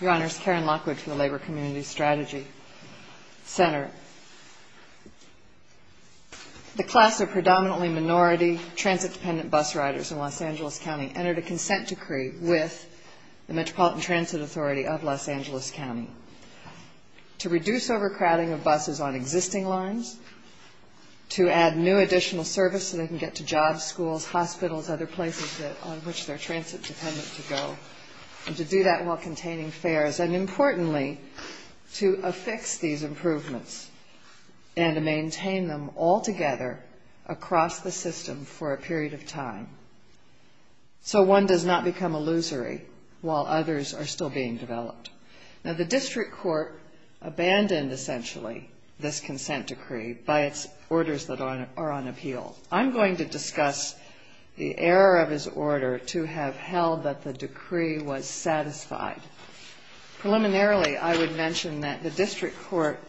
Your Honors, Karen Lockwood for the Labor Community Strategy Center. The class of predominantly minority transit-dependent bus riders in Los Angeles County entered a consent decree with the Metropolitan Transit Authority of Los Angeles County to reduce overcrowding of buses on existing lines, to add new additional service so they can get to jobs, schools, hospitals, other places on which they're transit-dependent to go, and to do that while containing fares, and importantly, to affix these improvements and to maintain them altogether across the system for a period of time so one does not become illusory while others are still being developed. Now the district court abandoned, essentially, this consent decree by its orders that are on appeal. I'm going to discuss the error of his order to have held that the decree was satisfied. Preliminarily, I would mention that the district court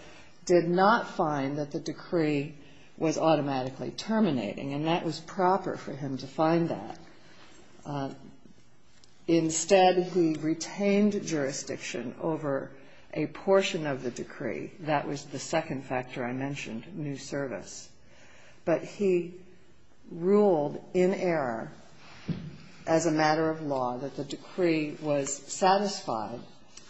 did not find that the decree was automatically terminating, and that was proper for him to find that. Instead, he retained jurisdiction over a portion of the decree. That was the second factor I mentioned, new service. But he ruled in error, as a matter of law, that the decree was satisfied,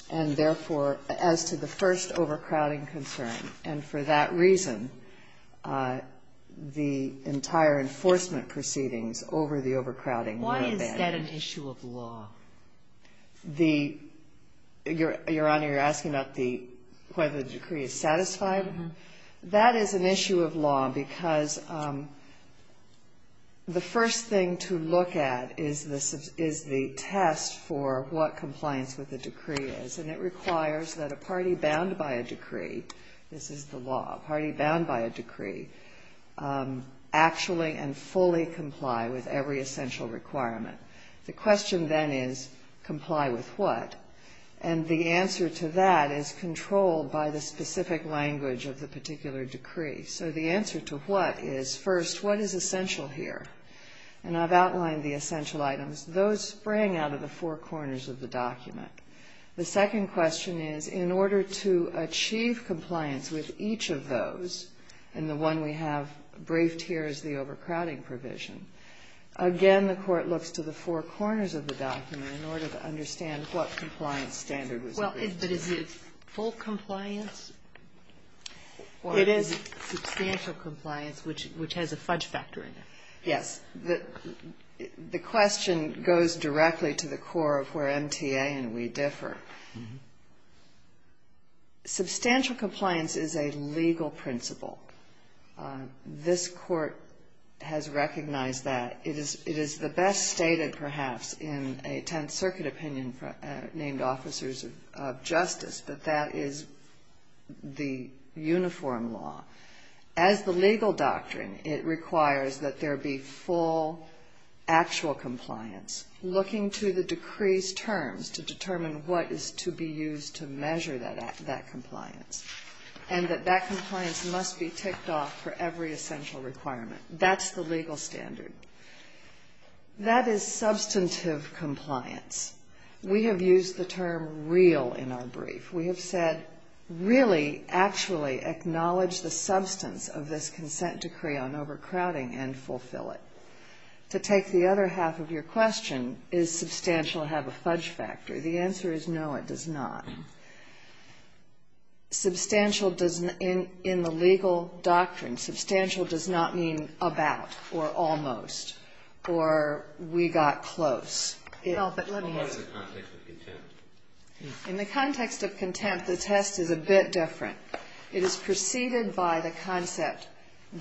and therefore, as to the first overcrowding concern, and for that reason the entire enforcement proceedings over the overcrowding were abandoned. Why is that an issue of law? Your Honor, you're asking about whether the decree is satisfied? That is an issue of law because the first thing to look at is the test for what compliance with the decree is, and it requires that a party bound by a decree, this is the law, a party bound by a decree, actually and fully comply with every essential requirement. The question then is comply with what? And the answer to that is controlled by the specific language of the particular decree. So the answer to what is, first, what is essential here? And I've outlined the essential items. Those spring out of the four corners of the document. The second question is, in order to achieve compliance with each of those, and the one we have briefed here is the overcrowding provision, again the court looks to the four corners of the document in order to understand what compliance standard was agreed to. But is it full compliance? It is substantial compliance, which has a fudge factor in it. Yes. The question goes directly to the core of where MTA and we differ. Substantial compliance is a legal principle. This Court has recognized that. It is the best stated, perhaps, in a Tenth Circuit opinion named Officers of Justice, that that is the uniform law. As the legal doctrine, it requires that there be full actual compliance, looking to the decree's terms to determine what is to be used to measure that compliance, and that that compliance must be ticked off for every essential requirement. That's the legal standard. That is substantive compliance. We have used the term real in our brief. We have said, really, actually acknowledge the substance of this consent decree on overcrowding and fulfill it. To take the other half of your question, is substantial have a fudge factor? The answer is no, it does not. Substantial does not, in the legal doctrine, Substantial does not mean about or almost or we got close. Well, but let me ask. What about in the context of contempt? In the context of contempt, the test is a bit different. It is preceded by the concept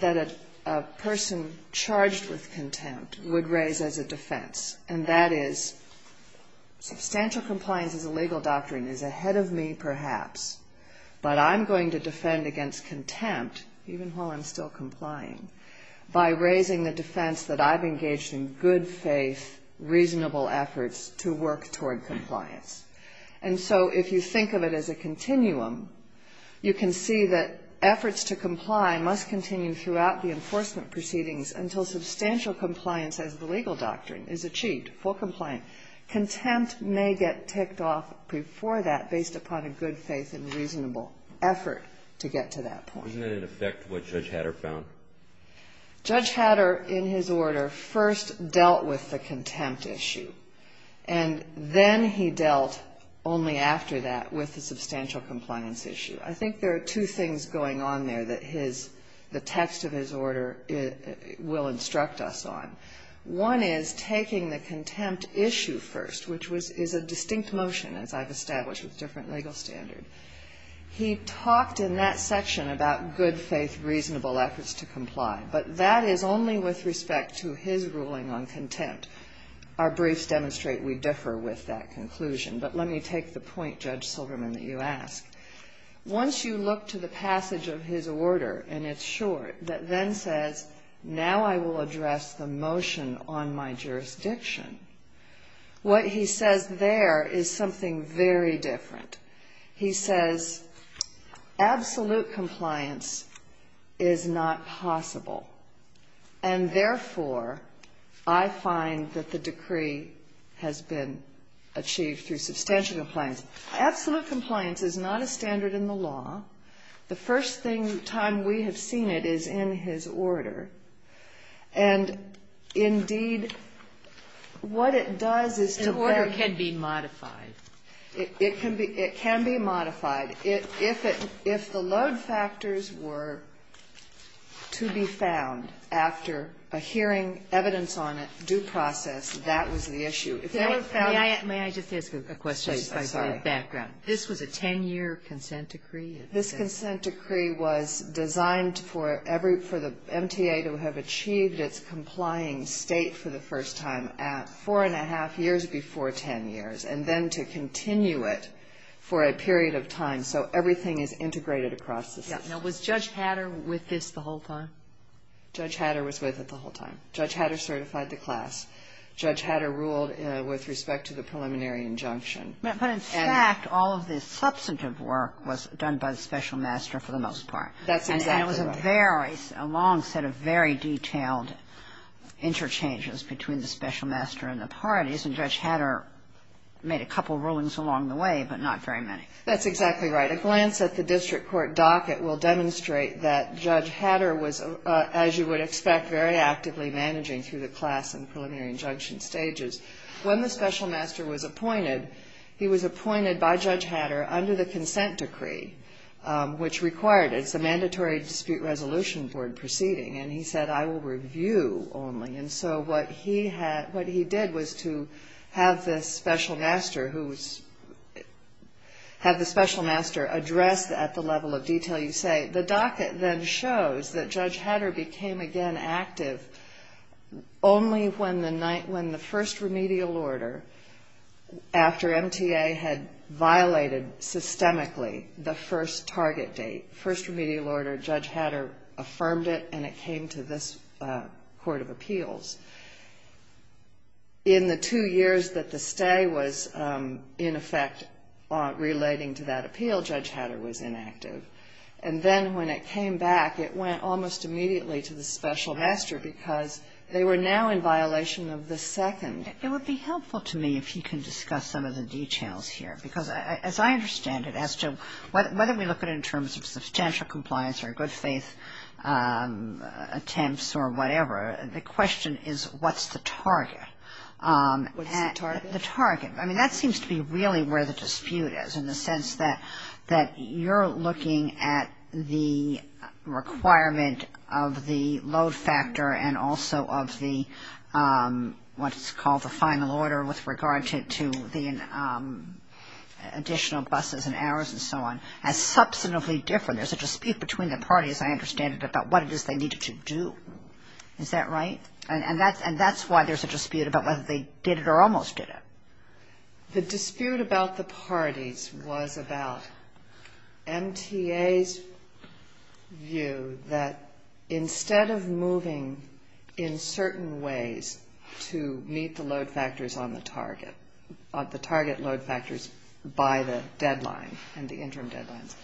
that a person charged with contempt would raise as a defense, and that is substantial compliance as a legal doctrine is ahead of me, perhaps, but I'm going to defend against contempt, even while I'm still complying, by raising the defense that I've engaged in good faith, reasonable efforts to work toward compliance. And so if you think of it as a continuum, you can see that efforts to comply must continue throughout the enforcement proceedings until substantial compliance as the legal doctrine is achieved, full compliance. Contempt may get ticked off before that based upon a good faith and reasonable effort to get to that point. Isn't that in effect what Judge Hatter found? Judge Hatter, in his order, first dealt with the contempt issue, and then he dealt only after that with the substantial compliance issue. I think there are two things going on there that the text of his order will instruct us on. One is taking the contempt issue first, which is a distinct motion as I've established with different legal standard. He talked in that section about good faith, reasonable efforts to comply, but that is only with respect to his ruling on contempt. Our briefs demonstrate we differ with that conclusion, but let me take the point, Judge Silverman, that you ask. Once you look to the passage of his order, and it's short, that then says, now I will address the motion on my jurisdiction. What he says there is something very different. He says absolute compliance is not possible, and therefore I find that the decree has been achieved through substantial compliance. Absolute compliance is not a standard in the law. The first thing, time we have seen it, is in his order. And indeed, what it does is to let them be modified. It can be modified. If the load factors were to be found after a hearing evidence on it, due process, that was the issue. If they were found to be found to be found. This consent decree was designed for the MTA to have achieved its complying State for the first time at 4 1⁄2 years before 10 years, and then to continue it for a period of time so everything is integrated across the State. Now, was Judge Hatter with this the whole time? Judge Hatter was with it the whole time. Judge Hatter certified the class. Judge Hatter ruled with respect to the preliminary injunction. But in fact, all of the substantive work was done by the special master for the most part. That's exactly right. And it was a very, a long set of very detailed interchanges between the special master and the parties, and Judge Hatter made a couple of rulings along the way, but not very many. That's exactly right. A glance at the district court docket will demonstrate that Judge Hatter was, as you would expect, very actively managing through the class and preliminary injunction stages. When the special master was appointed, he was appointed by Judge Hatter under the consent decree, which required it. It's a mandatory dispute resolution board proceeding. And he said, I will review only. And so what he had, what he did was to have the special master who was, have the special master address at the level of detail you say. The docket then shows that Judge Hatter became again active only when the first remedial order, after MTA had violated systemically the first target date, first remedial order, Judge Hatter affirmed it and it came to this court of appeals. In the two years that the stay was in effect relating to that appeal, Judge Hatter was inactive. And then when it came back, it went almost immediately to the special master because they were now in violation of the second. It would be helpful to me if you can discuss some of the details here. Because as I understand it, as to whether we look at it in terms of substantial compliance or good faith attempts or whatever, the question is what's the target? What's the target? The target. I mean, that seems to be really where the dispute is in the sense that you're looking at the requirement of the load factor and also of the, what's called the final order with regard to the additional buses and hours and so on as substantively different. There's a dispute between the parties, I understand, about what it is they needed to do. Is that right? And that's why there's a dispute about whether they did it or almost did it. The dispute about the parties was about MTA's view that instead of moving in certain ways to meet the load factors on the target, the target load factors by the deadline and the interim deadlines,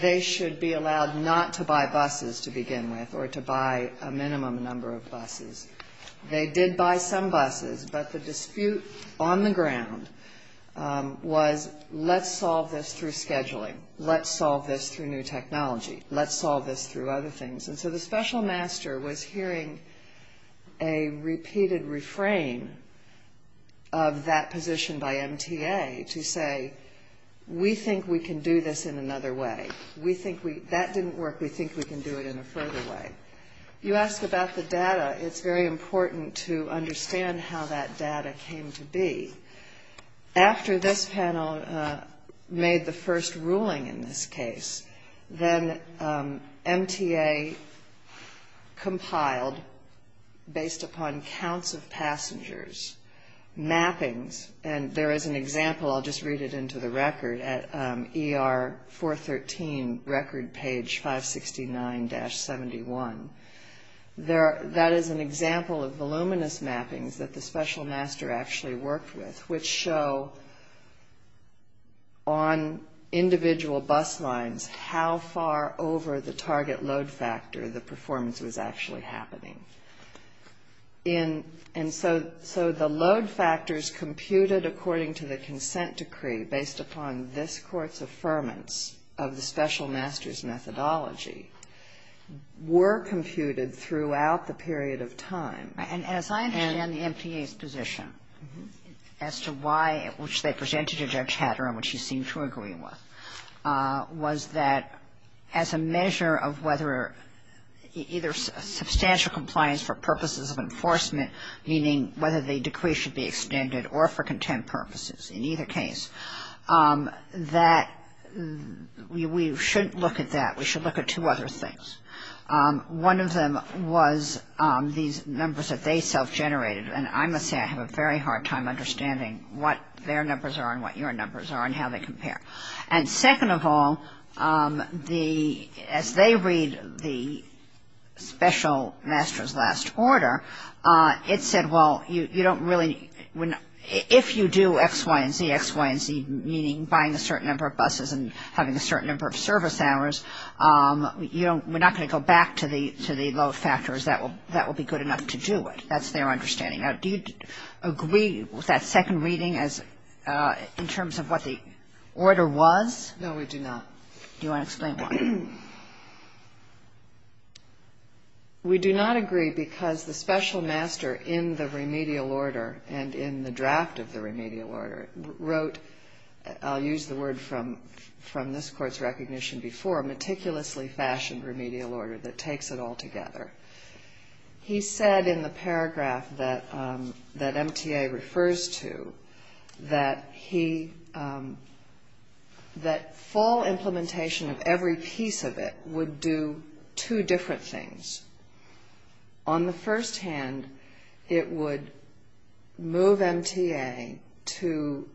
they should be allowed not to buy buses to begin with or to buy a minimum number of buses. They did buy some buses, but the dispute on the ground was let's solve this through scheduling. Let's solve this through new technology. Let's solve this through other things. And so the special master was hearing a repeated refrain of that position by MTA to say, we think we can do this in another way. That didn't work. We think we can do it in a further way. You ask about the data. It's very important to understand how that data came to be. After this panel made the first ruling in this case, then MTA compiled based upon counts of passengers, mappings, and there is an example. I'll just read it into the record at ER 413, record page 569-71. That is an example of voluminous mappings that the special master actually worked with, which show on individual bus lines how far over the target load factor the performance was actually happening. And so the load factors computed according to the consent decree based upon this court's deferments of the special master's methodology were computed throughout the period of time. And as I understand the MTA's position as to why, which they presented to Judge Hatter and which he seemed to agree with, was that as a measure of whether either substantial compliance for purposes of enforcement, meaning whether the decree should be extended or for contempt purposes in either case, that we shouldn't look at that. We should look at two other things. One of them was these numbers that they self-generated, and I must say I have a very hard time understanding what their numbers are and what your numbers are and how they compare. And second of all, as they read the special master's last order, it said, well, you don't really, if you do X, Y, and Z, X, Y, and Z, meaning buying a certain number of buses and having a certain number of service hours, we're not going to go back to the load factors. That will be good enough to do it. That's their understanding. Now, do you agree with that second reading in terms of what the order was? No, we do not. Do you want to explain why? We do not agree because the special master in the remedial order and in the draft of the remedial order wrote, I'll use the word from this Court's recognition before, meticulously fashioned remedial order that takes it all together. He said in the paragraph that MTA refers to that he, that full implementation of every piece of it would do two different things. On the first hand, it would move MTA to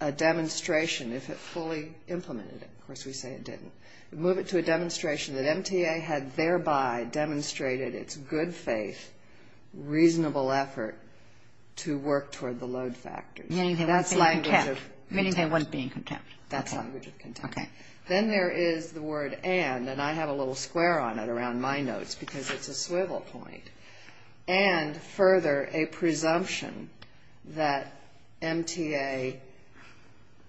a demonstration if it fully implemented it. Of course, we say it didn't. It would move it to a demonstration that MTA had thereby demonstrated its good faith, reasonable effort to work toward the load factors. Meaning they weren't being contempt. Meaning they weren't being contempt. That's language of contempt. Okay. Then there is the word and, and I have a little square on it around my notes because it's a swivel point. And further, a presumption that MTA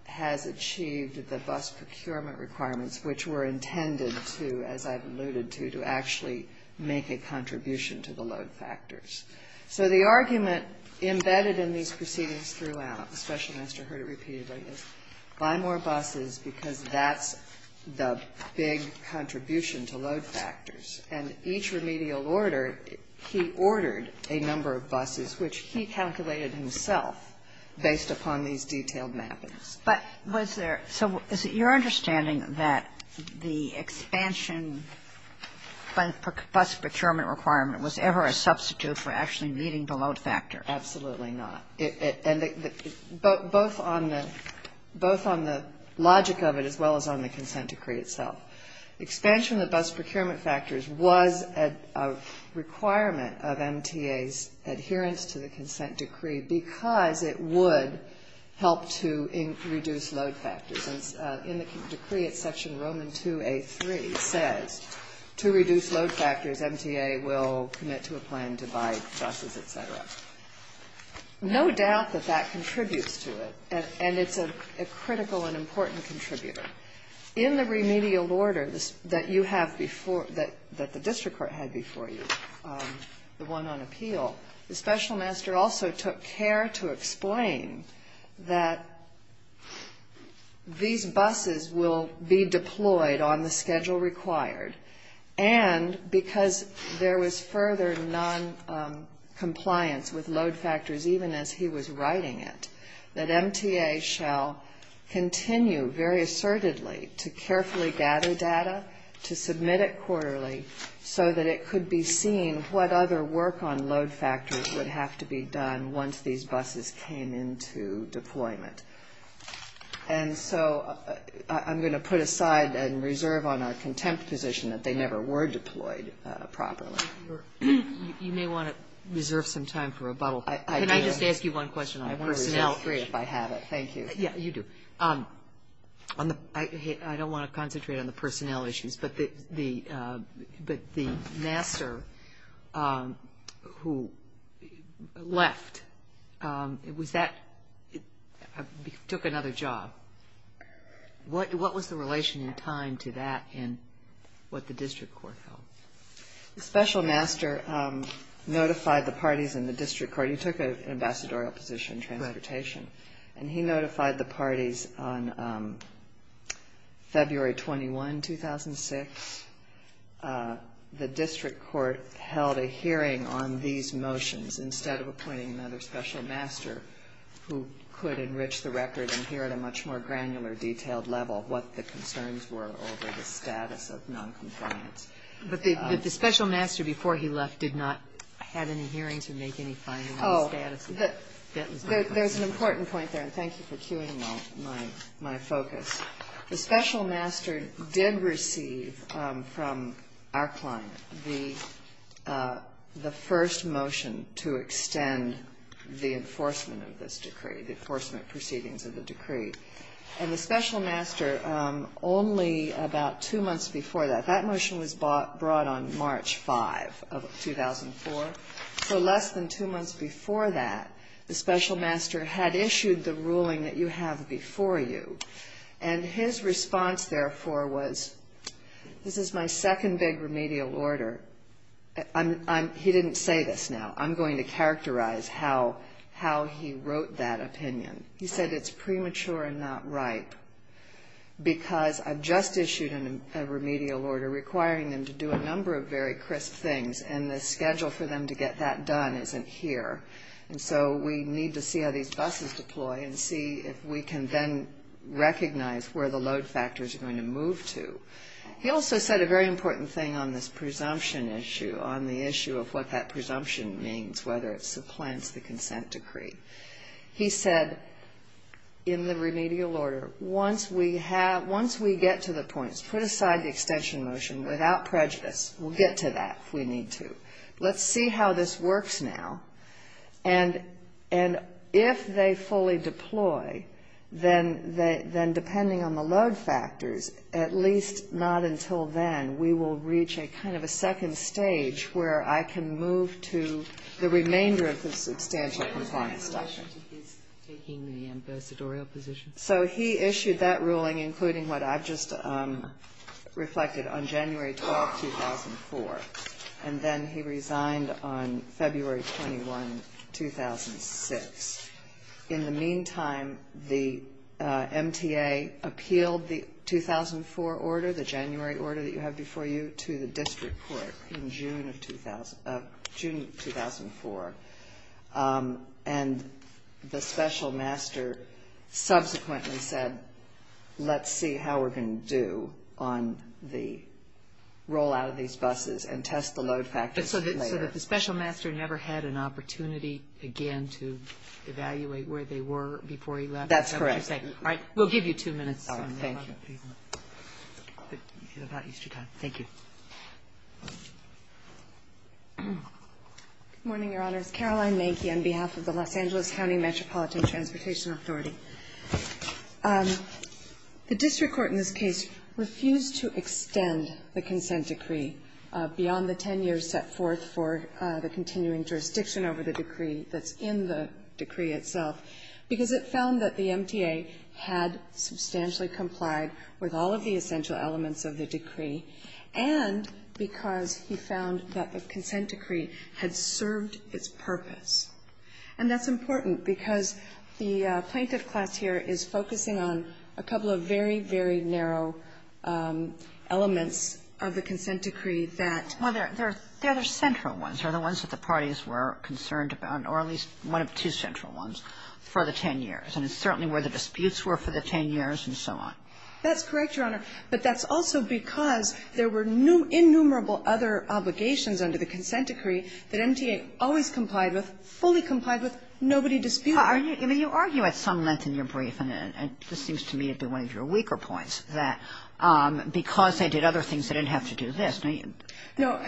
has achieved the bus procurement requirements which were intended to, as I've alluded to, to actually make a contribution to the load factors. So the argument embedded in these proceedings throughout, the Special Minister heard it repeatedly, is buy more buses because that's the big contribution to load factors. And each remedial order, he ordered a number of buses which he calculated himself based upon these detailed mappings. But was there, so is it your understanding that the expansion for bus procurement requirement was ever a substitute for actually meeting the load factor? Absolutely not. Both on the logic of it as well as on the consent decree itself. Expansion of the bus procurement factors was a requirement of MTA's adherence to the consent decree because it would help to reduce load factors. And in the decree, it's section Roman 2A3 says, to reduce load factors MTA will commit to a plan to buy buses, et cetera. No doubt that that contributes to it, and it's a critical and important contributor. In the remedial order that you have before, that the district court had before you, the one on appeal, the Special Minister also took care to explain that these buses will be deployed on the schedule required. And because there was further noncompliance with load factors even as he was writing it, that MTA shall continue very assertedly to carefully gather data, to submit it quarterly so that it could be seen what other work on load factors would have to be done once these buses came into deployment. And so I'm going to put aside and reserve on our contempt position that they never were deployed properly. You may want to reserve some time for rebuttal. Can I just ask you one question on personnel? I want to reserve three if I have it. Thank you. Yeah, you do. I don't want to concentrate on the personnel issues, but the master who left, it was that he took another job. What was the relation in time to that in what the district court held? The special master notified the parties in the district court. He took an ambassadorial position in transportation. And he notified the parties on February 21, 2006. The district court held a hearing on these motions instead of appointing another special master who could enrich the record and hear at a much more granular detailed level what the concerns were over the status of noncompliance. But the special master before he left did not have any hearings or make any findings on the status of noncompliance? There's an important point there, and thank you for cueing my focus. The special master did receive from our client the first motion to extend the enforcement of this decree, the enforcement proceedings of the decree. And the special master only about two months before that, that motion was brought on March 5 of 2004. So less than two months before that, the special master had issued the ruling that you have before you. And his response, therefore, was this is my second big remedial order. He didn't say this now. I'm going to characterize how he wrote that opinion. He said it's premature and not ripe because I've just issued a remedial order requiring them to do a number of very crisp things, and the schedule for them to get that done isn't here. And so we need to see how these buses deploy and see if we can then recognize where the load factors are going to move to. He also said a very important thing on this presumption issue, on the issue of what that presumption means, whether it supplants the consent decree. He said in the remedial order, once we get to the points, put aside the extension motion without prejudice, we'll get to that if we need to. Let's see how this works now. And if they fully deploy, then depending on the load factors, at least not until then we will reach a kind of a second stage where I can move to the remainder of the substantial compliance document. Is taking the ambassadorial position? So he issued that ruling, including what I've just reflected, on January 12, 2004. And then he resigned on February 21, 2006. In the meantime, the MTA appealed the 2004 order, the January order that you have before you, to the district court in June of 2004. And the special master subsequently said, let's see how we're going to do on the rollout of these buses and test the load factors later. So the special master never had an opportunity again to evaluate where they were before he left? That's correct. All right. We'll give you two minutes. All right. Thank you. Thank you. Good morning, Your Honors. Caroline Manky on behalf of the Los Angeles County Metropolitan Transportation Authority. The district court in this case refused to extend the consent decree beyond the 10 years set forth for the continuing jurisdiction over the decree that's in the decree itself because it found that the MTA had substantially complied with all of the essential elements of the decree, and because he found that the consent decree had served its purpose. And that's important because the plaintiff class here is focusing on a couple of very, very narrow elements of the consent decree that — Well, there are central ones, are the ones that the parties were concerned about, or at least one of two central ones, for the 10 years. And it's certainly where the disputes were for the 10 years and so on. That's correct, Your Honor. But that's also because there were innumerable other obligations under the consent decree that MTA always complied with, fully complied with, nobody disputed. I mean, you argue at some length in your brief, and this seems to me to be one of your weaker points, that because they did other things, they didn't have to do this. No.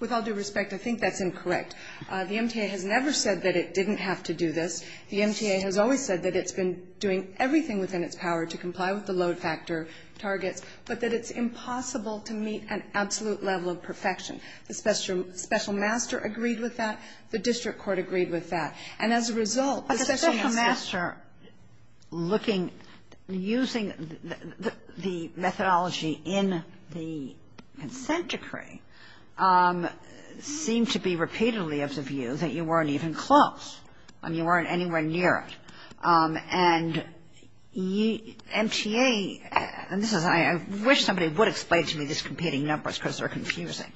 With all due respect, I think that's incorrect. The MTA has never said that it didn't have to do this. The MTA has always said that it's been doing everything within its power to comply with the load factor targets, but that it's impossible to meet an absolute level of perfection. The special master agreed with that. The district court agreed with that. And as a result, the special master — But the special master looking — using the methodology in the consent decree seemed to be repeatedly of the view that you weren't even close. I mean, you weren't anywhere near it. And MTA — and this is — I wish somebody would explain to me these competing numbers because they're confusing.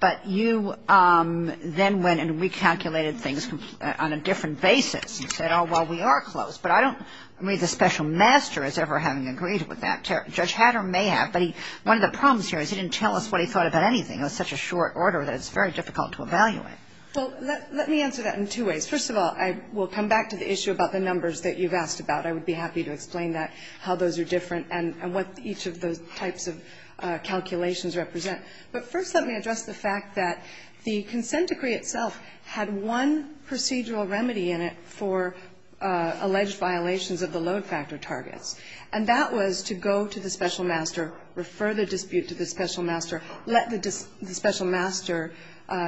But you then went and recalculated things on a different basis and said, oh, well, we are close, but I don't read the special master as ever having agreed with that. Judge Hatter may have, but one of the problems here is he didn't tell us what he thought about anything. It was such a short order that it's very difficult to evaluate. Well, let me answer that in two ways. First of all, I will come back to the issue about the numbers that you've asked about. I would be happy to explain that, how those are different and what each of those types of calculations represent. But first let me address the fact that the consent decree itself had one procedural remedy in it for alleged violations of the load factor targets, and that was to go to the special master, refer the dispute to the special master, let the special master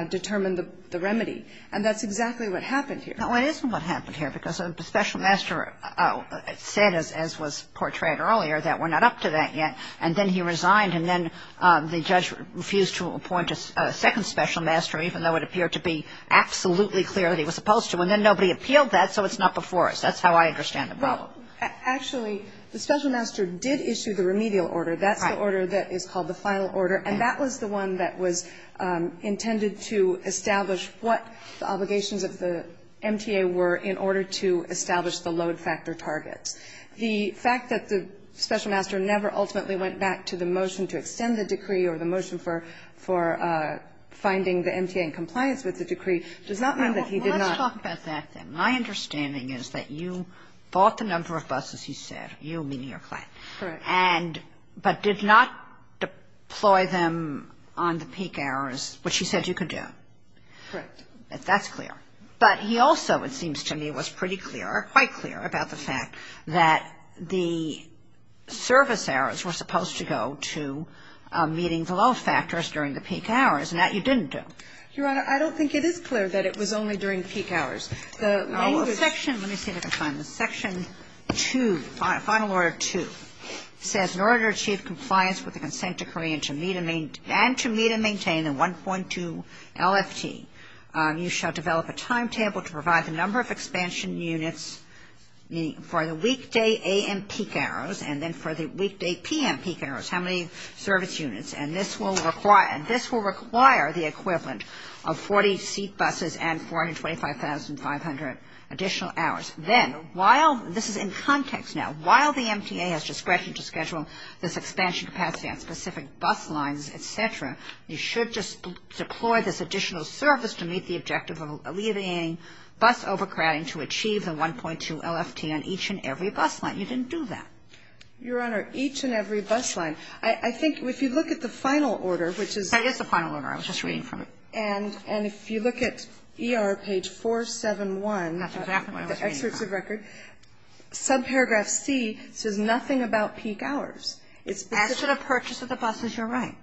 determine the remedy. And that's exactly what happened here. No, it isn't what happened here, because the special master said, as was portrayed earlier, that we're not up to that yet. And then he resigned, and then the judge refused to appoint a second special master, even though it appeared to be absolutely clear that he was supposed to. And then nobody appealed that, so it's not before us. That's how I understand the problem. Well, actually, the special master did issue the remedial order. That's the order that is called the final order. And that was the one that was intended to establish what the obligations of the MTA were in order to establish the load factor targets. The fact that the special master never ultimately went back to the motion to extend the decree or the motion for finding the MTA in compliance with the decree does not mean that he did not. Well, let's talk about that, then. My understanding is that you bought the number of buses, he said, you, meaning your client. Correct. But did not deploy them on the peak hours, which he said you could do. Correct. That's clear. But he also, it seems to me, was pretty clear, quite clear, about the fact that the service hours were supposed to go to meeting the load factors during the peak hours, and that you didn't do. Your Honor, I don't think it is clear that it was only during peak hours. The main section of the section, let me see if I can find this, section 2, final order 2, says in order to achieve compliance with the consent decree and to meet and maintain the 1.2 LFT, you shall develop a timetable to provide the number of expansion units for the weekday a.m. peak hours and then for the weekday p.m. peak hours, how many service units. And this will require the equivalent of 40 seat buses and 425,500 additional hours. Then, while, this is in context now, while the MTA has discretion to schedule this expansion capacity on specific bus lines, et cetera, you should just deploy this additional service to meet the objective of alleviating bus overcrowding to achieve the 1.2 LFT on each and every bus line. You didn't do that. Your Honor, each and every bus line. I think if you look at the final order, which is. That is the final order. I was just reading from it. And if you look at ER page 471. Excerpts of record. Subparagraph C says nothing about peak hours. As to the purchase of the buses, you're right,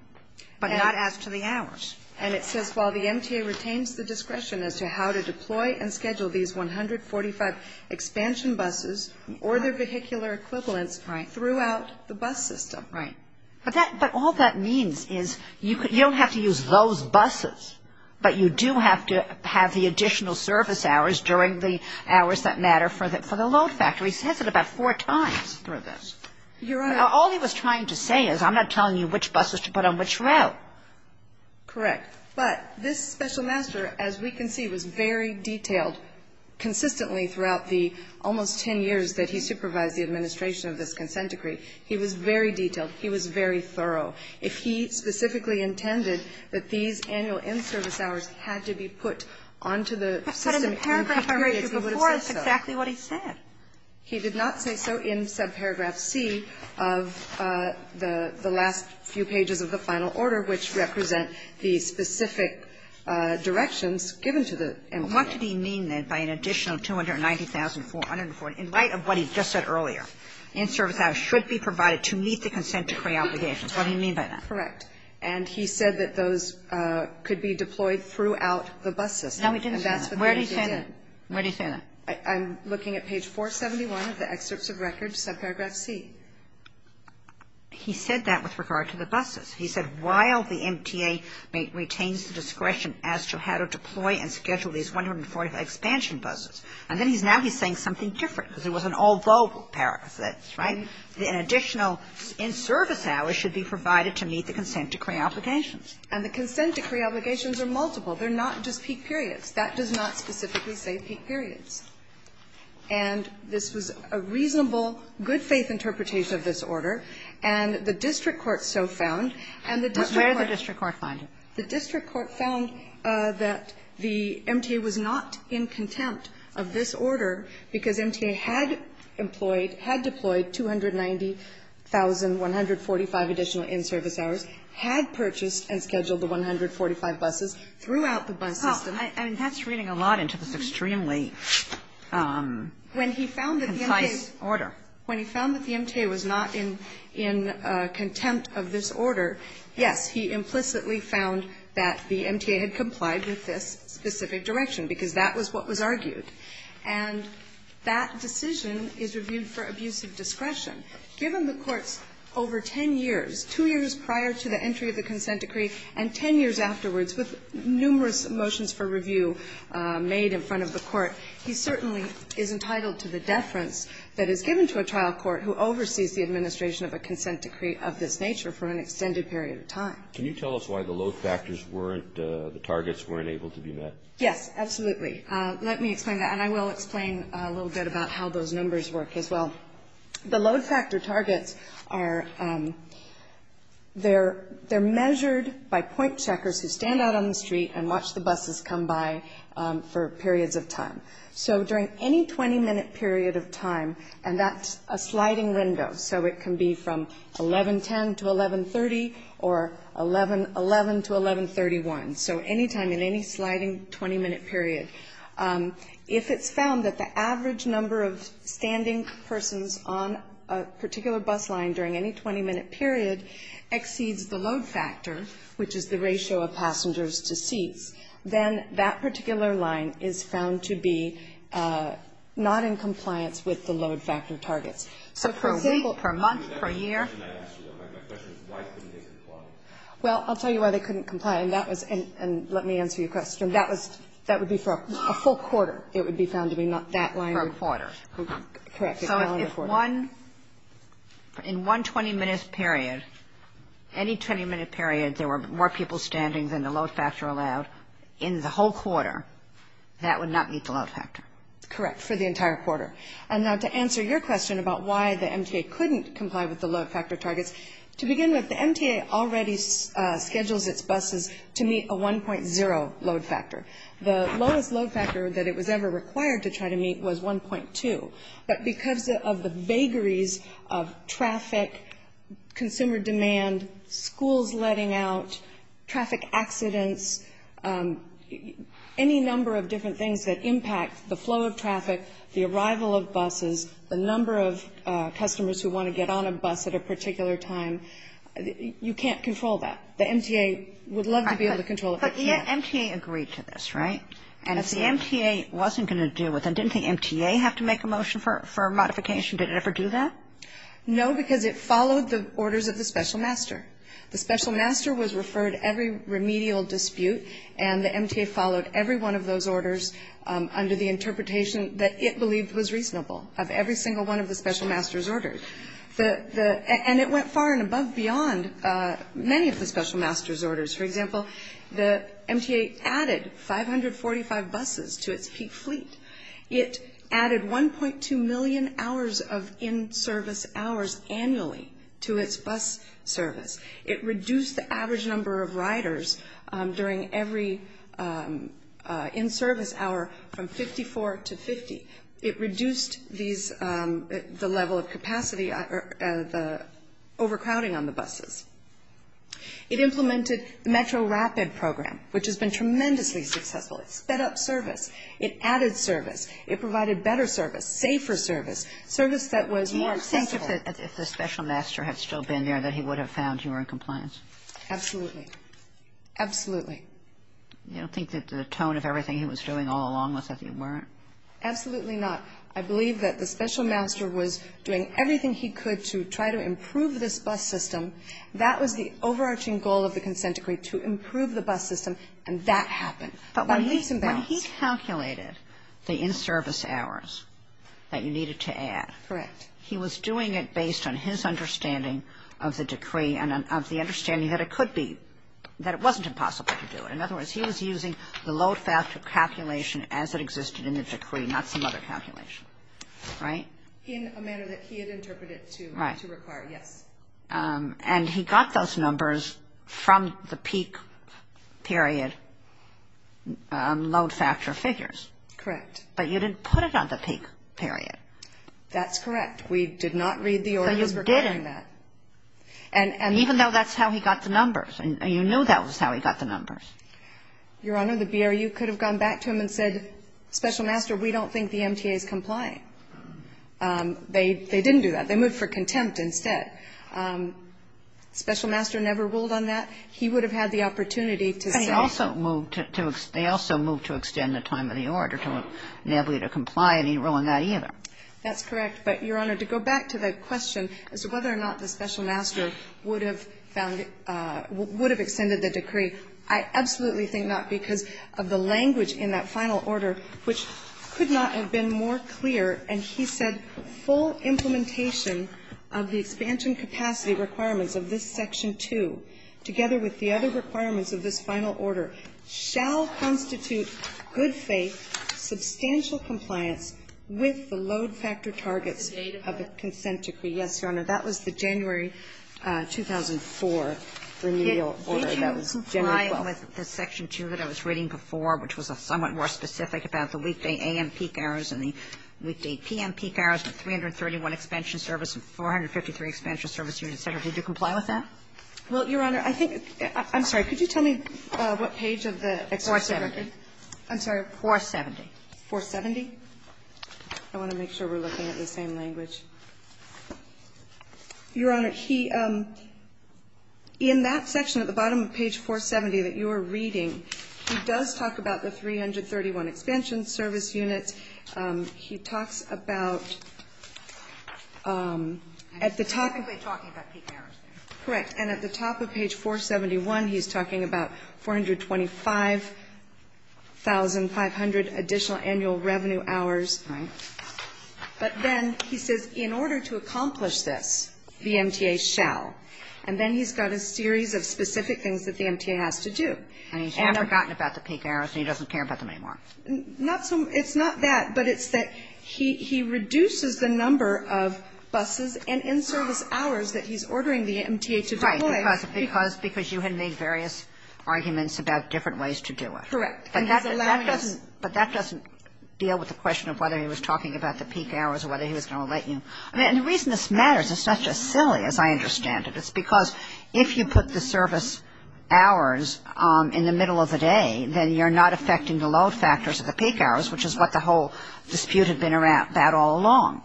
but not as to the hours. And it says while the MTA retains the discretion as to how to deploy and schedule these 145 expansion buses or their vehicular equivalents throughout the bus system. Right. But all that means is you don't have to use those buses, but you do have to have the hours that matter for the load factor. He says it about four times through this. Your Honor. All he was trying to say is I'm not telling you which buses to put on which route. Correct. But this special master, as we can see, was very detailed consistently throughout the almost 10 years that he supervised the administration of this consent decree. He was very detailed. He was very thorough. If he specifically intended that these annual in-service hours had to be put onto the system. In a couple of years before, that's exactly what he said. He did not say so in subparagraph C of the last few pages of the final order, which represent the specific directions given to the MTA. What did he mean then by an additional 290,440 in light of what he just said earlier? In-service hours should be provided to meet the consent decree obligations. What did he mean by that? Correct. And he said that those could be deployed throughout the bus system. No, he didn't say that. Where did he say that? Where did he say that? I'm looking at page 471 of the excerpts of record, subparagraph C. He said that with regard to the buses. He said while the MTA retains the discretion as to how to deploy and schedule these 145 expansion buses. And then he's now he's saying something different because it was an although paragraph. That's right. An additional in-service hours should be provided to meet the consent decree obligations. And the consent decree obligations are multiple. They're not just peak periods. That does not specifically say peak periods. And this was a reasonable, good-faith interpretation of this order. And the district court so found, and the district court. Where did the district court find it? The district court found that the MTA was not in contempt of this order because MTA had employed, had deployed 290,145 additional in-service hours, had purchased and scheduled the 145 buses throughout the bus system. I mean, that's reading a lot into this extremely concise order. When he found that the MTA was not in contempt of this order, yes, he implicitly found that the MTA had complied with this specific direction because that was what was argued. And that decision is reviewed for abusive discretion. Given the Court's over 10 years, 2 years prior to the entry of the consent decree and 10 years afterwards with numerous motions for review made in front of the Court, he certainly is entitled to the deference that is given to a trial court who oversees the administration of a consent decree of this nature for an extended period of time. Can you tell us why the load factors weren't, the targets weren't able to be met? Yes, absolutely. Let me explain that. And I will explain a little bit about how those numbers work as well. The load factor targets are, they're measured by point checkers who stand out on the street and watch the buses come by for periods of time. So during any 20-minute period of time, and that's a sliding window, so it can be from 1110 to 1130 or 1111 to 1131. So any time in any sliding 20-minute period. If it's found that the average number of standing persons on a particular bus line during any 20-minute period exceeds the load factor, which is the ratio of passengers to seats, then that particular line is found to be not in compliance with the load factor targets. So for a city per month, per year. My question is why couldn't they comply? Well, I'll tell you why they couldn't comply. And that was, and let me answer your question. That was, that would be for a full quarter. It would be found to be not that line. For a quarter. Correct. So if one, in one 20-minute period, any 20-minute period there were more people standing than the load factor allowed in the whole quarter, that would not meet the load factor. Correct. For the entire quarter. And now to answer your question about why the MTA couldn't comply with the load factor The lowest load factor that it was ever required to try to meet was 1.2. But because of the vagaries of traffic, consumer demand, schools letting out, traffic accidents, any number of different things that impact the flow of traffic, the arrival of buses, the number of customers who want to get on a bus at a particular time, you can't control that. The MTA would love to be able to control it. But yet MTA agreed to this, right? And if the MTA wasn't going to do it, then didn't the MTA have to make a motion for modification? Did it ever do that? No, because it followed the orders of the special master. The special master was referred every remedial dispute, and the MTA followed every one of those orders under the interpretation that it believed was reasonable of every single one of the special master's orders. And it went far and above beyond many of the special master's orders. For example, the MTA added 545 buses to its peak fleet. It added 1.2 million hours of in-service hours annually to its bus service. It reduced the average number of riders during every in-service hour from 54 to 50. It reduced the level of capacity, the overcrowding on the buses. It implemented the Metro Rapid program, which has been tremendously successful. It sped up service. It added service. It provided better service, safer service, service that was more accessible. Do you think that if the special master had still been there, that he would have found you were in compliance? Absolutely. Absolutely. You don't think that the tone of everything he was doing all along was that you weren't? Absolutely not. I believe that the special master was doing everything he could to try to improve this bus system. That was the overarching goal of the consent decree, to improve the bus system. And that happened. But when he calculated the in-service hours that you needed to add. Correct. He was doing it based on his understanding of the decree and of the understanding that it could be, that it wasn't impossible to do it. In other words, he was using the load factor calculation as it existed in the decree, not some other calculation. Right? In a manner that he had interpreted to require. Yes. And he got those numbers from the peak period load factor figures. Correct. But you didn't put it on the peak period. That's correct. We did not read the orders regarding that. So you didn't. And even though that's how he got the numbers. You knew that was how he got the numbers. Your Honor, the BRU could have gone back to him and said, special master, we don't think the MTA is complying. They didn't do that. They moved for contempt instead. Special master never ruled on that. He would have had the opportunity to say. They also moved to extend the time of the order to enable you to comply, and he didn't rule on that either. That's correct. But, Your Honor, to go back to the question as to whether or not the special master would have found it, would have extended the decree, I absolutely think not, because of the language in that final order, which could not have been more clear, and he said full implementation of the expansion capacity requirements of this Section 2, together with the other requirements of this final order, shall constitute good faith, substantial compliance with the load factor targets of a consent decree. Yes, Your Honor. That was the January 2004 remedial order. That was January 12th. Did you comply with the Section 2 that I was reading before, which was somewhat more specific about the weekday a.m. peak hours and the weekday p.m. peak hours, the 331 expansion service and 453 expansion service units, et cetera? Did you comply with that? Well, Your Honor, I think – I'm sorry. Could you tell me what page of the extension record? 470. I'm sorry. 470. 470? I want to make sure we're looking at the same language. Your Honor, he – in that section at the bottom of page 470 that you are reading, he does talk about the 331 expansion service units. He talks about – at the top of the page 471, he's talking about 425,500 additional annual revenue hours. Right. But then he says in order to accomplish this, the MTA shall. And then he's got a series of specific things that the MTA has to do. And he's never gotten about the peak hours, and he doesn't care about them anymore. Not so – it's not that, but it's that he reduces the number of buses and in-service hours that he's ordering the MTA to deploy. Right, because you had made various arguments about different ways to do it. Correct. And he's allowing us. But that doesn't deal with the question of whether he was talking about the peak hours or whether he was going to let you – I mean, and the reason this matters, it's not just silly, as I understand it. It's because if you put the service hours in the middle of the day, then you're not affecting the load factors of the peak hours, which is what the whole dispute had been about all along.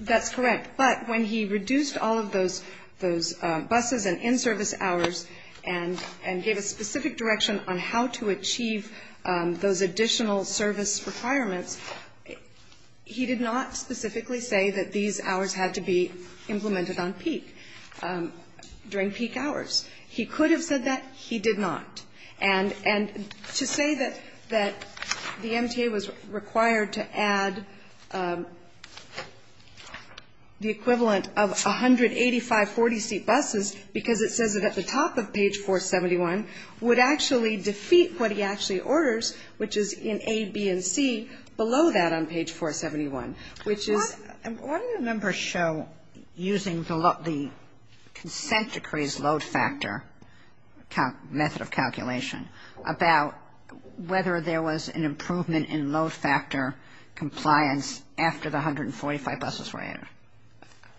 That's correct. But when he reduced all of those buses and in-service hours and gave a specific direction on how to achieve those additional service requirements, he did not specifically say that these hours had to be implemented on peak. During peak hours. He could have said that. He did not. And to say that the MTA was required to add the equivalent of 185 40-seat buses because it says it at the top of page 471 would actually defeat what he actually orders, which is in A, B, and C below that on page 471, which is – So using the consent decrees load factor method of calculation, about whether there was an improvement in load factor compliance after the 145 buses were added.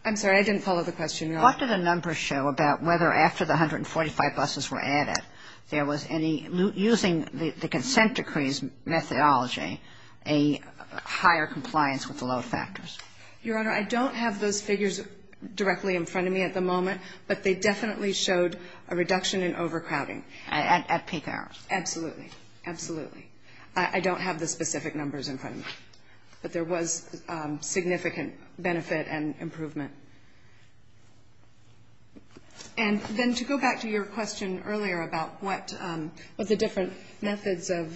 I'm sorry. I didn't follow the question. What did the numbers show about whether after the 145 buses were added, there was any – using the consent decrees methodology, a higher compliance with the load factors? Your Honor, I don't have those figures directly in front of me at the moment, but they definitely showed a reduction in overcrowding. At peak hours. Absolutely. Absolutely. I don't have the specific numbers in front of me. But there was significant benefit and improvement. And then to go back to your question earlier about what the different methods that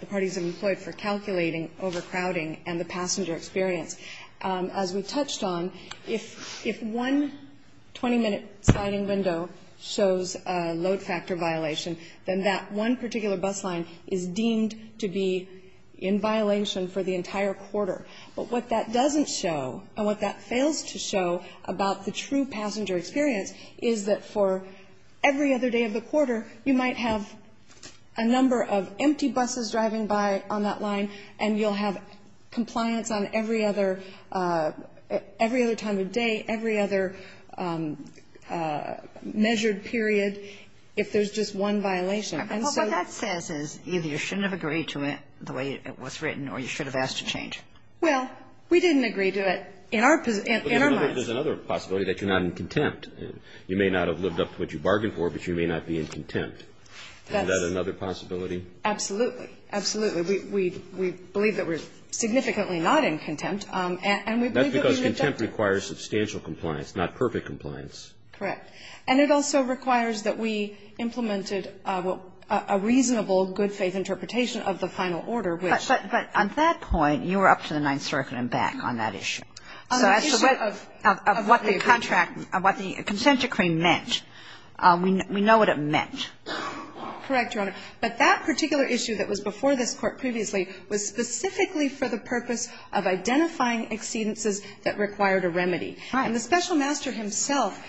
the parties have employed for calculating overcrowding and the passenger experience, as we touched on, if one 20-minute sliding window shows a load factor violation, then that one particular bus line is deemed to be in violation for the entire quarter. But what that doesn't show and what that fails to show about the true passenger experience is that for every other day of the quarter, you might have a number of empty buses driving by on that line and you'll have compliance on every other – every other time of day, every other measured period if there's just one violation. And so – Well, what that says is either you shouldn't have agreed to it the way it was written or you should have asked to change. But there's another possibility that you're not in contempt. You may not have lived up to what you bargained for, but you may not be in contempt. Isn't that another possibility? Absolutely. Absolutely. We believe that we're significantly not in contempt. And we believe that we lived up to it. That's because contempt requires substantial compliance, not perfect compliance. Correct. And it also requires that we implemented a reasonable good-faith interpretation of the final order, which – But on that point, you were up to the Ninth Circuit and back on that issue. So as to what the contract – what the consent decree meant, we know what it meant. Correct, Your Honor. But that particular issue that was before this Court previously was specifically for the purpose of identifying exceedances that required a remedy. And the Special Master himself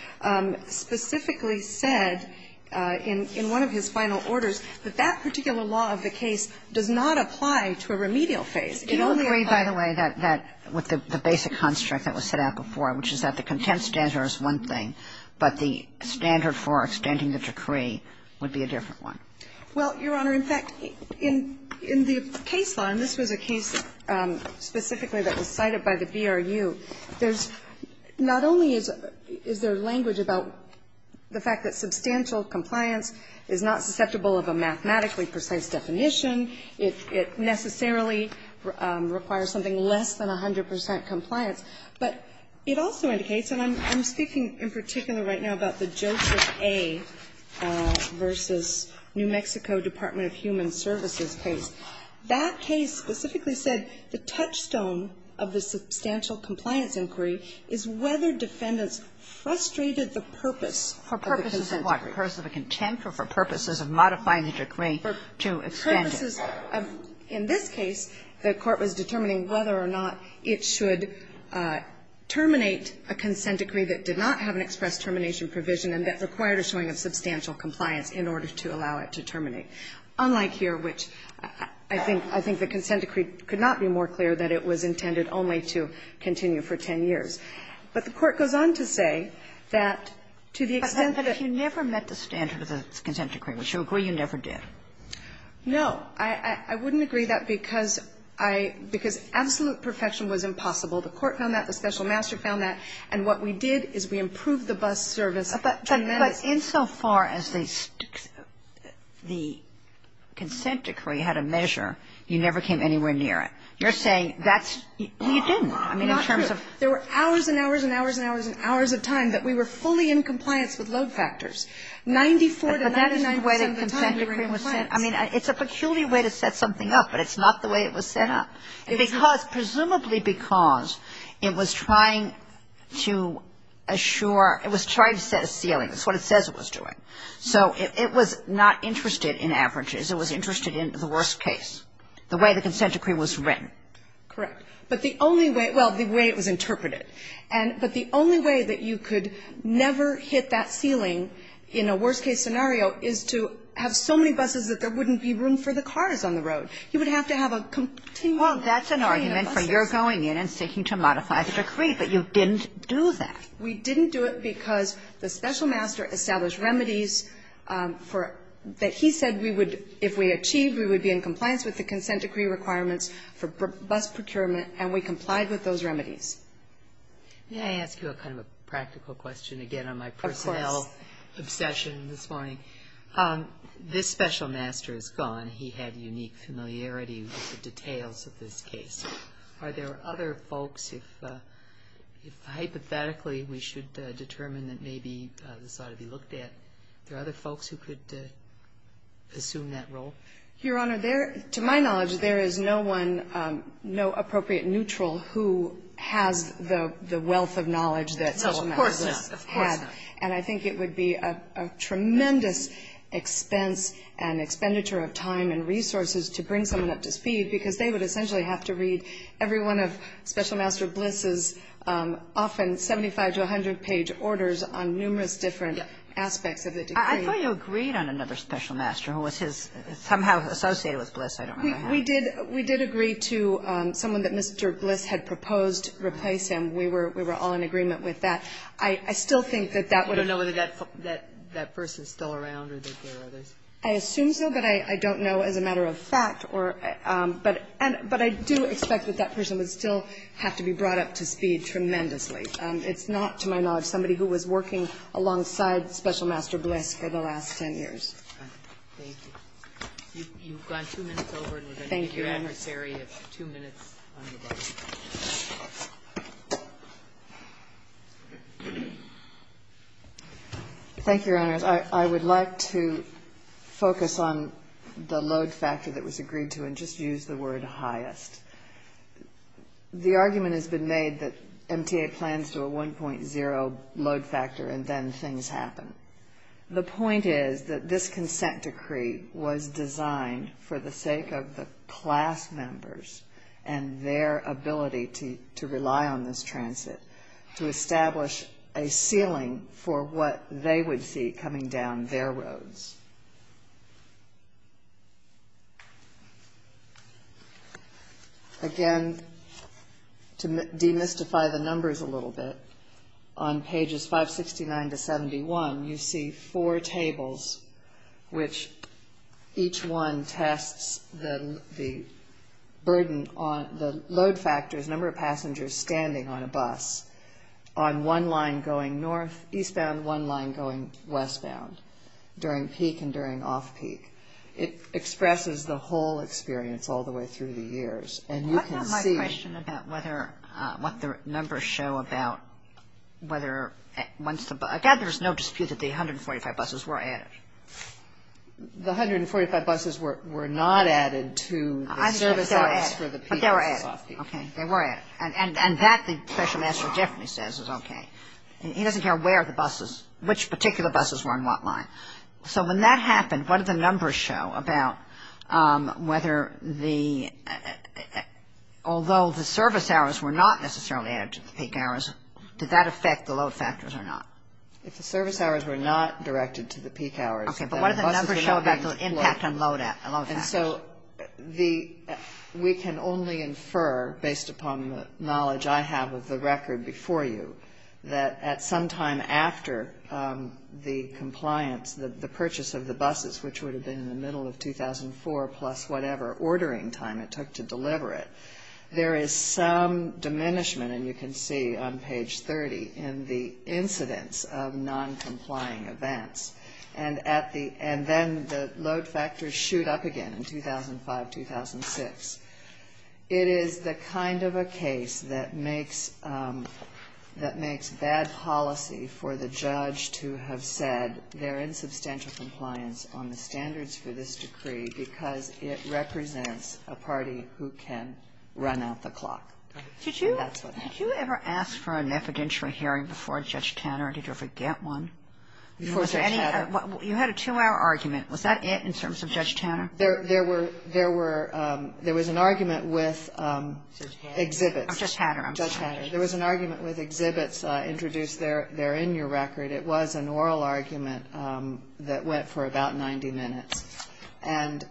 specifically said in one of his final orders that that particular law of the case does not apply to a remedial phase. Do you agree, by the way, that with the basic construct that was set out before, which is that the contempt standard is one thing, but the standard for extending the decree would be a different one? Well, Your Honor, in fact, in the case law – and this was a case specifically that was cited by the BRU – there's not only is there language about the fact that substantial compliance is not susceptible of a mathematically precise definition, it necessarily requires something less than 100 percent compliance, but it also indicates – and I'm speaking in particular right now about the Joseph A. v. New Mexico Department of Human Services case. That case specifically said the touchstone of the substantial compliance inquiry is whether defendants frustrated the purpose of the consent decree. For purposes of what? Purpose of a contempt or for purposes of modifying the decree to extend it? For purposes of – in this case, the Court was determining whether or not it should terminate a consent decree that did not have an express termination provision and that required a showing of substantial compliance in order to allow it to terminate, unlike here, which I think the consent decree could not be more clear that it was intended only to continue for 10 years. But the Court goes on to say that to the extent that it – But you never met the standard of the consent decree, which you agree you never did. No. I wouldn't agree that because I – because absolute perfection was impossible. The Court found that. The special master found that. And what we did is we improved the bus service. But insofar as the consent decree had a measure, you never came anywhere near it. You're saying that's – you didn't. I mean, in terms of – Not true. There were hours and hours and hours and hours and hours of time that we were fully in compliance with load factors. 94 to 99 percent of the time we were in compliance. But that's the way the consent decree was set. I mean, it's a peculiar way to set something up, but it's not the way it was set up. Because presumably because it was trying to assure – it was trying to set a ceiling. That's what it says it was doing. So it was not interested in averages. It was interested in the worst case, the way the consent decree was written. Correct. But the only way – well, the way it was interpreted. But the only way that you could never hit that ceiling in a worst-case scenario is to have so many buses that there wouldn't be room for the cars on the road. You would have to have a continual train of buses. Well, that's an argument for your going in and seeking to modify the decree. But you didn't do that. We didn't do it because the special master established remedies for – that he said we would – if we achieved, we would be in compliance with the consent decree requirements for bus procurement, and we complied with those remedies. May I ask you a kind of a practical question again on my personnel obsession this morning? Of course. This special master is gone. He had unique familiarity with the details of this case. Are there other folks, if hypothetically we should determine that maybe this ought to be looked at, are there other folks who could assume that role? Your Honor, there – to my knowledge, there is no one, no appropriate neutral who has the wealth of knowledge that special master Bliss had. No, of course not. Of course not. And I think it would be a tremendous expense and expenditure of time and resources to bring someone up to speed, because they would essentially have to read every one of special master Bliss's often 75- to 100-page orders on numerous different aspects of the decree. I thought you agreed on another special master who was his – somehow associated with Bliss. I don't remember how. We did agree to someone that Mr. Bliss had proposed replace him. We were all in agreement with that. I still think that that would have – You don't know whether that person is still around or that there are others? I assume so, but I don't know as a matter of fact. But I do expect that that person would still have to be brought up to speed tremendously. It's not, to my knowledge, somebody who was working alongside special master Bliss for the last 10 years. Thank you. You've got two minutes over, and we're going to give your adversary two minutes on the bus. Thank you, Your Honors. I would like to focus on the load factor that was agreed to and just use the word highest. The argument has been made that MTA plans to a 1.0 load factor and then things happen. The point is that this consent decree was designed for the sake of the class members and their ability to rely on this transit to establish a ceiling for what they would see coming down their roads. Again, to demystify the numbers a little bit, on pages 569 to 71, you see four tables, which each one tests the burden on – the load factors, number of people on the bus, the number of people on the bus, the number of people going westbound during peak and during off-peak. It expresses the whole experience all the way through the years. And you can see – I've got my question about whether – what the numbers show about whether once the – again, there's no dispute that the 145 buses were added. The 145 buses were not added to the service hours for the peak and the off-peak. But they were added. Okay. They were added. And that the special master definitely says is okay. He doesn't care where the buses – which particular buses were on what line. So when that happened, what did the numbers show about whether the – although the service hours were not necessarily added to the peak hours, did that affect the load factors or not? If the service hours were not directed to the peak hours – Okay. But what did the numbers show about the impact on load factors? And so the – we can only infer, based upon the knowledge I have of the record before you, that at some time after the compliance, the purchase of the buses, which would have been in the middle of 2004 plus whatever ordering time it took to deliver it, there is some diminishment, and you can see on page 30, in the noncomplying events. And at the – and then the load factors shoot up again in 2005, 2006. It is the kind of a case that makes – that makes bad policy for the judge to have said they're in substantial compliance on the standards for this decree because it represents a party who can run out the clock. That's what happened. Did you ask for an evidentiary hearing before Judge Tanner? Did you ever get one? Before Judge Hatter? You had a two-hour argument. Was that it in terms of Judge Tanner? There were – there was an argument with exhibits. Judge Hatter. Judge Hatter. There was an argument with exhibits introduced there in your record. It was an oral argument that went for about 90 minutes. And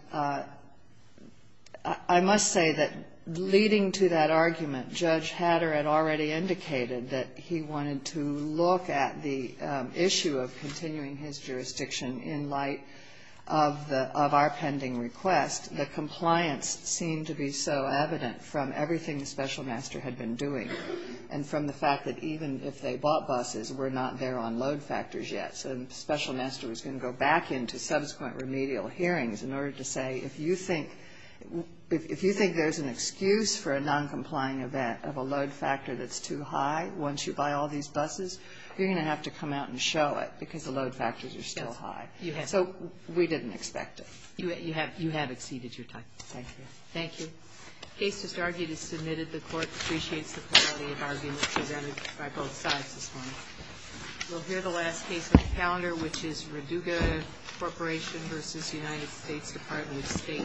I must say that leading to that argument, Judge Hatter had already indicated that he wanted to look at the issue of continuing his jurisdiction in light of the – of our pending request. The compliance seemed to be so evident from everything the special master had been doing and from the fact that even if they bought buses, we're not there on load factors yet. So the special master was going to go back into subsequent remedial hearings in order to say, if you think – if you think there's an excuse for a noncompliant event of a load factor that's too high once you buy all these buses, you're going to have to come out and show it because the load factors are still high. Yes. You have. So we didn't expect it. You have exceeded your time. Thank you. Thank you. The case just argued is submitted. The Court appreciates the quality of argument presented by both sides this morning. We'll hear the last case on the calendar, which is Raduga Corporation versus United States Department of State.